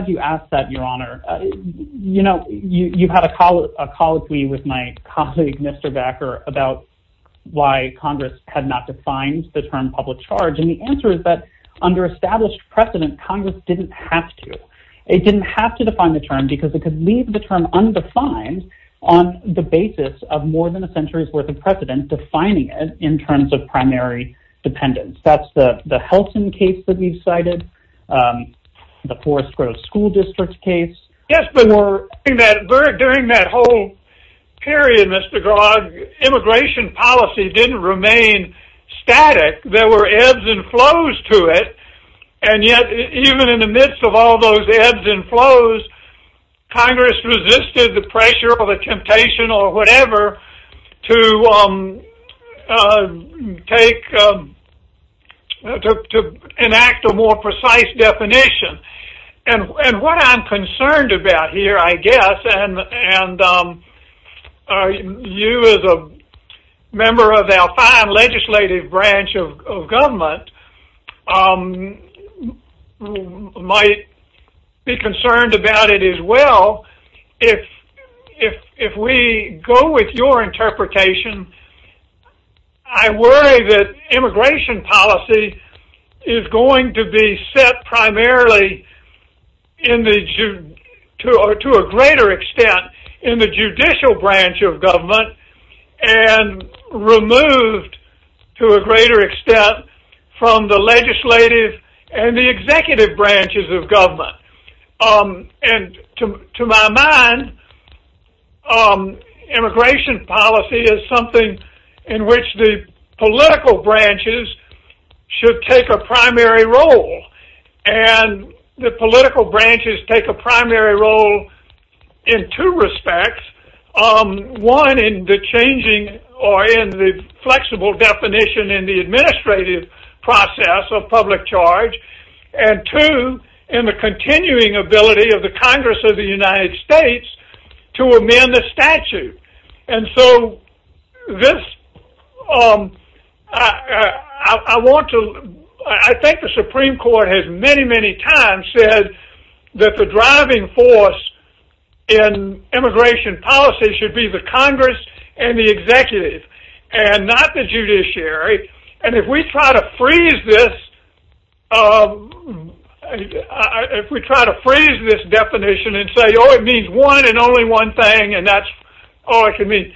you asked that, Your Honor. You know, you've had a colloquy with my colleague, Mr. Backer, about why Congress had not defined the term public charge, and the answer is that under established precedent, Congress didn't have to. It didn't have to define the term because it could leave the term undefined on the basis of more than a century's worth of precedent defining it in terms of primary dependence. That's the Helton case that we've cited, the Forest Grove School District case. Yes, but during that whole period, Mr. Grogg, immigration policy didn't remain static. There were ebbs and flows to it, and yet even in the midst of all those ebbs and flows, Congress resisted the pressure or the temptation or whatever to enact a more precise definition. And what I'm concerned about here, I guess, and you as a member of the Alpine legislative branch of government might be concerned about it as well. If we go with your interpretation, I worry that immigration policy is going to be set primarily to a greater extent in the judicial branch of government and removed to a greater extent from the legislative and the executive branches of government. And to my mind, immigration policy is something in which the political branches should take a primary role, and the political branches take a primary role in two respects. One, in the changing or in the flexible definition in the administrative process of public charge, and two, in the continuing ability of the Congress of the United States to amend the statute. I think the Supreme Court has many, many times said that the driving force in immigration policy should be the Congress and the executive and not the judiciary. And if we try to freeze this definition and say, oh, it means one and only one thing, and that's all it can mean,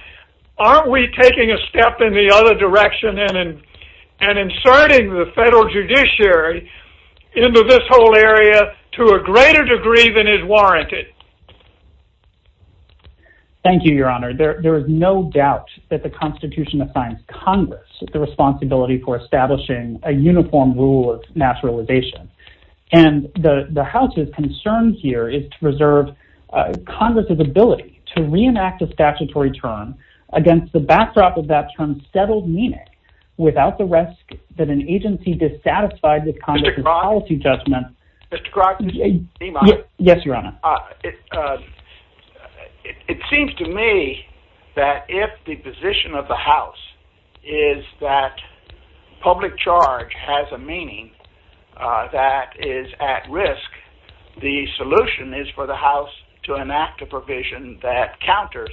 aren't we taking a step in the other direction and inserting the federal judiciary into this whole area to a greater degree than is warranted? Thank you, Your Honor. There is no doubt that the Constitution assigns Congress the responsibility for establishing a uniform rule of naturalization. And the House's concern here is to preserve Congress's ability to reenact a statutory term against the backdrop of that term's settled meaning without the risk that an agency dissatisfied with Congress's policy judgment. Mr. Grodd? Yes, Your Honor. It seems to me that if the position of the House is that public charge has a meaning that is at risk, the solution is for the House to enact a provision that counters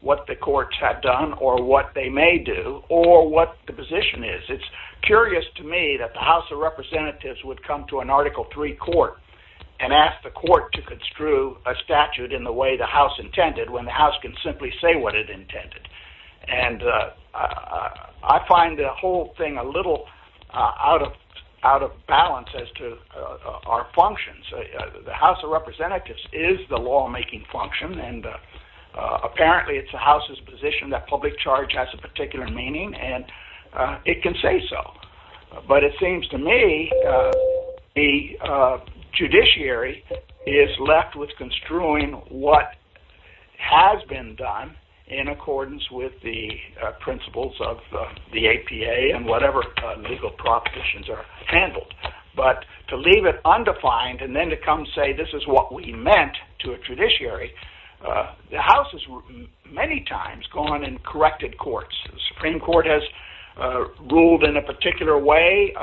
what the courts have done or what they may do or what the position is. It's curious to me that the House of Representatives would come to an Article III court and ask the court to construe a statute in the way the House intended when the House can simply say what it intended. And I find the whole thing a little out of balance as to our functions. The House of Representatives is the lawmaking function, and apparently it's the House's position that public charge has a particular meaning, and it can say so. But it seems to me the judiciary is left with construing what has been done in accordance with the principles of the APA and whatever legal propositions are handled. But to leave it undefined and then to come say this is what we meant to a judiciary, the House has many times gone and corrected courts. The Supreme Court has ruled in a particular way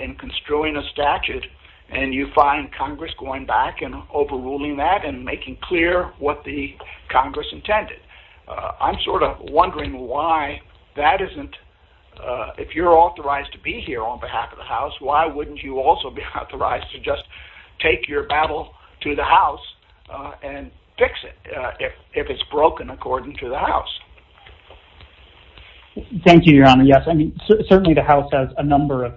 in construing a statute, and you find Congress going back and overruling that and making clear what the Congress intended. I'm sort of wondering why that isn't, if you're authorized to be here on behalf of the House, why wouldn't you also be authorized to just take your battle to the House and fix it if it's broken according to the House? Thank you, Your Honor. Yes, certainly the House has a number of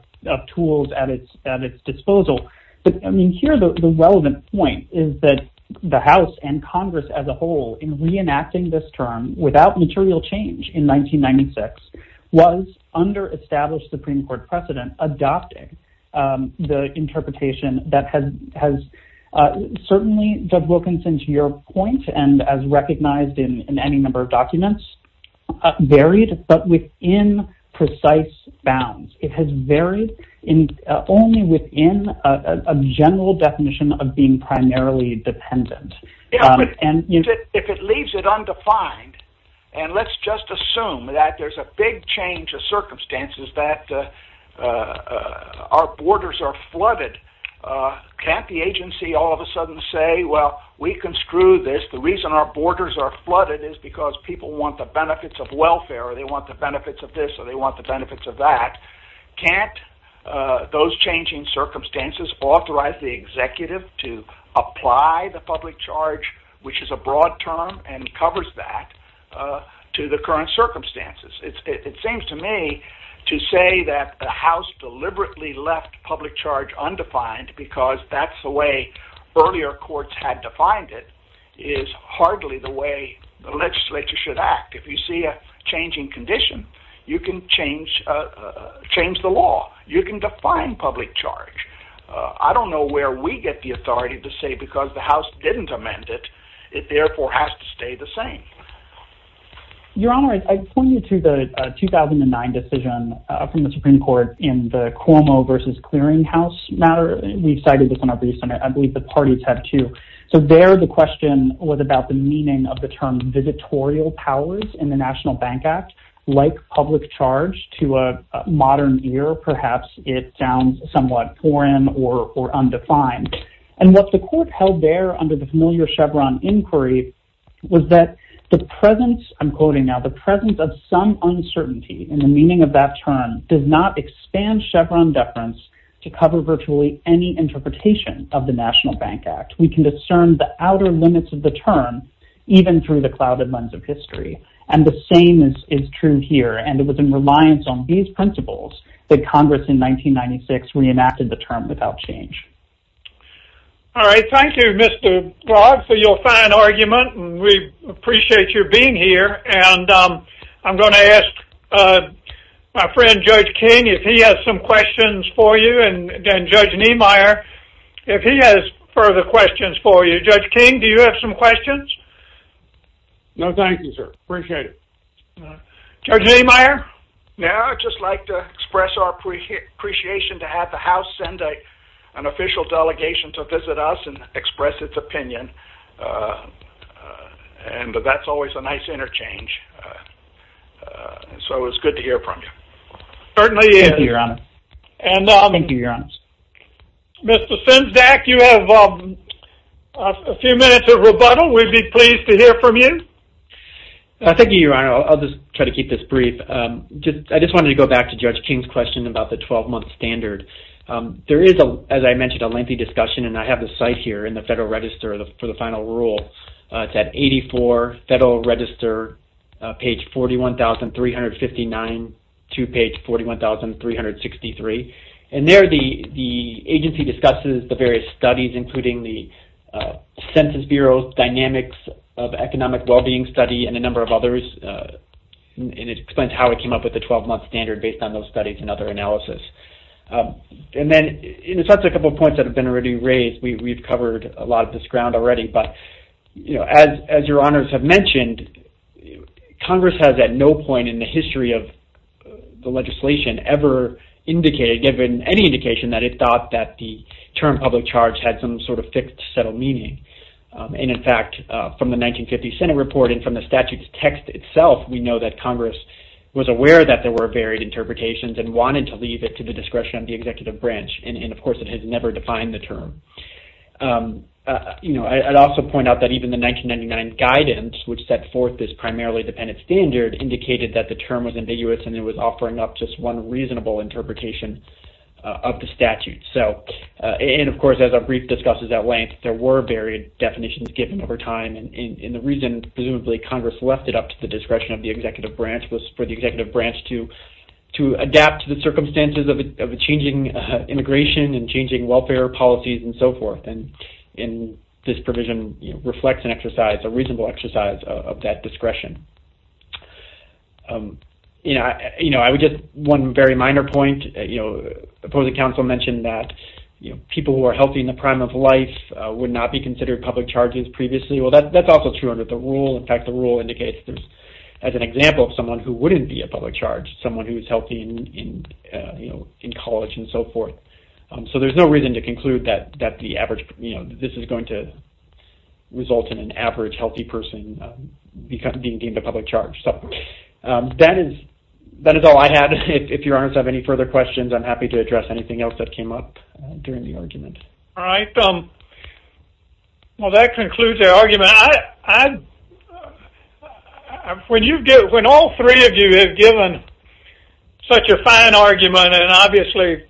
tools at its disposal. Here the relevant point is that the House and Congress as a whole in reenacting this term without material change in 1996 was under established Supreme Court precedent adopting the interpretation that has certainly, Judge Wilkinson, to your point, and as recognized in any number of documents, varied but within precise bounds. It has varied only within a general definition of being primarily dependent. If it leaves it undefined, and let's just assume that there's a big change of circumstances that our borders are flooded, can't the agency all of a sudden say, well, we can screw this. The reason our borders are flooded is because people want the benefits of welfare or they want the benefits of this or they want the benefits of that. Can't those changing circumstances authorize the executive to apply the public charge, which is a broad term and covers that, to the current circumstances? It seems to me to say that the House deliberately left public charge undefined because that's the way earlier courts had defined it is hardly the way the legislature should act. If you see a changing condition, you can change the law. You can define public charge. I don't know where we get the authority to say because the House didn't amend it, it therefore has to stay the same. Your Honor, I point you to the 2009 decision from the Supreme Court in the Cuomo versus Clearing House matter. We cited this in our briefs, and I believe the parties had too. So there the question was about the meaning of the term visitorial powers in the National Bank Act like public charge to a modern ear. Perhaps it sounds somewhat foreign or undefined. And what the court held there under the familiar Chevron inquiry was that the presence, I'm quoting now, the presence of some uncertainty in the meaning of that term does not expand Chevron deference to cover virtually any interpretation of the National Bank Act. We can discern the outer limits of the term even through the clouded lens of history. And the same is true here. And it was in reliance on these principles that Congress in 1996 reenacted the term without change. All right, thank you, Mr. Blogg, for your fine argument, and we appreciate your being here. And I'm going to ask my friend Judge King if he has some questions for you, and then Judge Niemeyer if he has further questions for you. Judge King, do you have some questions? No, thank you, sir. Appreciate it. Judge Niemeyer? Yeah, I'd just like to express our appreciation to have the House send an official delegation to visit us and express its opinion. And that's always a nice interchange. So it was good to hear from you. Certainly is. Thank you, Your Honor. Thank you, Your Honor. Mr. Sinsdak, you have a few minutes of rebuttal. We'd be pleased to hear from you. Thank you, Your Honor. I'll just try to keep this brief. I just wanted to go back to Judge King's question about the 12-month standard. There is, as I mentioned, a lengthy discussion, and I have the site here in the Federal Register for the final rule. It's at 84, Federal Register, page 41,359 to page 41,363. And there the agency discusses the various studies, including the Census Bureau's Dynamics of Economic Well-Being Study and a number of others. And it explains how it came up with the 12-month standard based on those studies and other analysis. And then it starts with a couple of points that have been already raised. We've covered a lot of this ground already. But as Your Honors have mentioned, Congress has at no point in the history of the legislation ever indicated, given any indication, that it thought that the term public charge had some sort of fixed, settled meaning. And, in fact, from the 1950 Senate report and from the statute's text itself, we know that Congress was aware that there were varied interpretations and wanted to leave it to the discretion of the executive branch. And, of course, it has never defined the term. I'd also point out that even the 1999 guidance, which set forth this primarily dependent standard, indicated that the term was ambiguous and it was offering up just one reasonable interpretation of the statute. And, of course, as our brief discusses at length, there were varied definitions given over time. And the reason, presumably, Congress left it up to the discretion of the executive branch was for the executive branch to adapt to the circumstances of a changing immigration and changing welfare policies and so forth. And this provision reflects an exercise, a reasonable exercise of that discretion. I would just, one very minor point, the opposing counsel mentioned that people who are healthy in the prime of life would not be considered public charges previously. Well, that's also true under the rule. In fact, the rule indicates, as an example of someone who wouldn't be a public charge, someone who is healthy in college and so forth. So there's no reason to conclude that this is going to result in an average healthy person being deemed a public charge. So that is all I have. If your honors have any further questions, I'm happy to address anything else that came up during the argument. All right. Well, that concludes our argument. When all three of you have given such a fine argument and obviously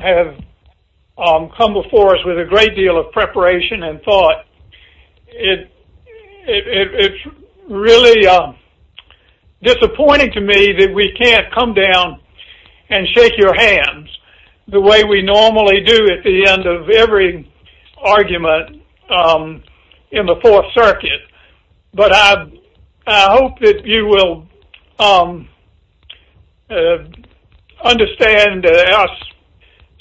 have come before us with a great deal of preparation and thought, it's really disappointing to me that we can't come down and shake your hands the way we normally do at the end of every argument in the Fourth Circuit. But I hope that you will understand our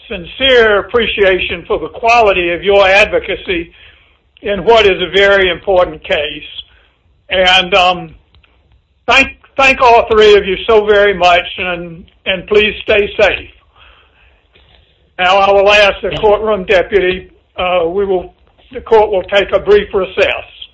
sincere appreciation for the quality of your advocacy in what is a very important case. And thank all three of you so very much and please stay safe. Now I will ask the courtroom deputy, the court will take a brief recess.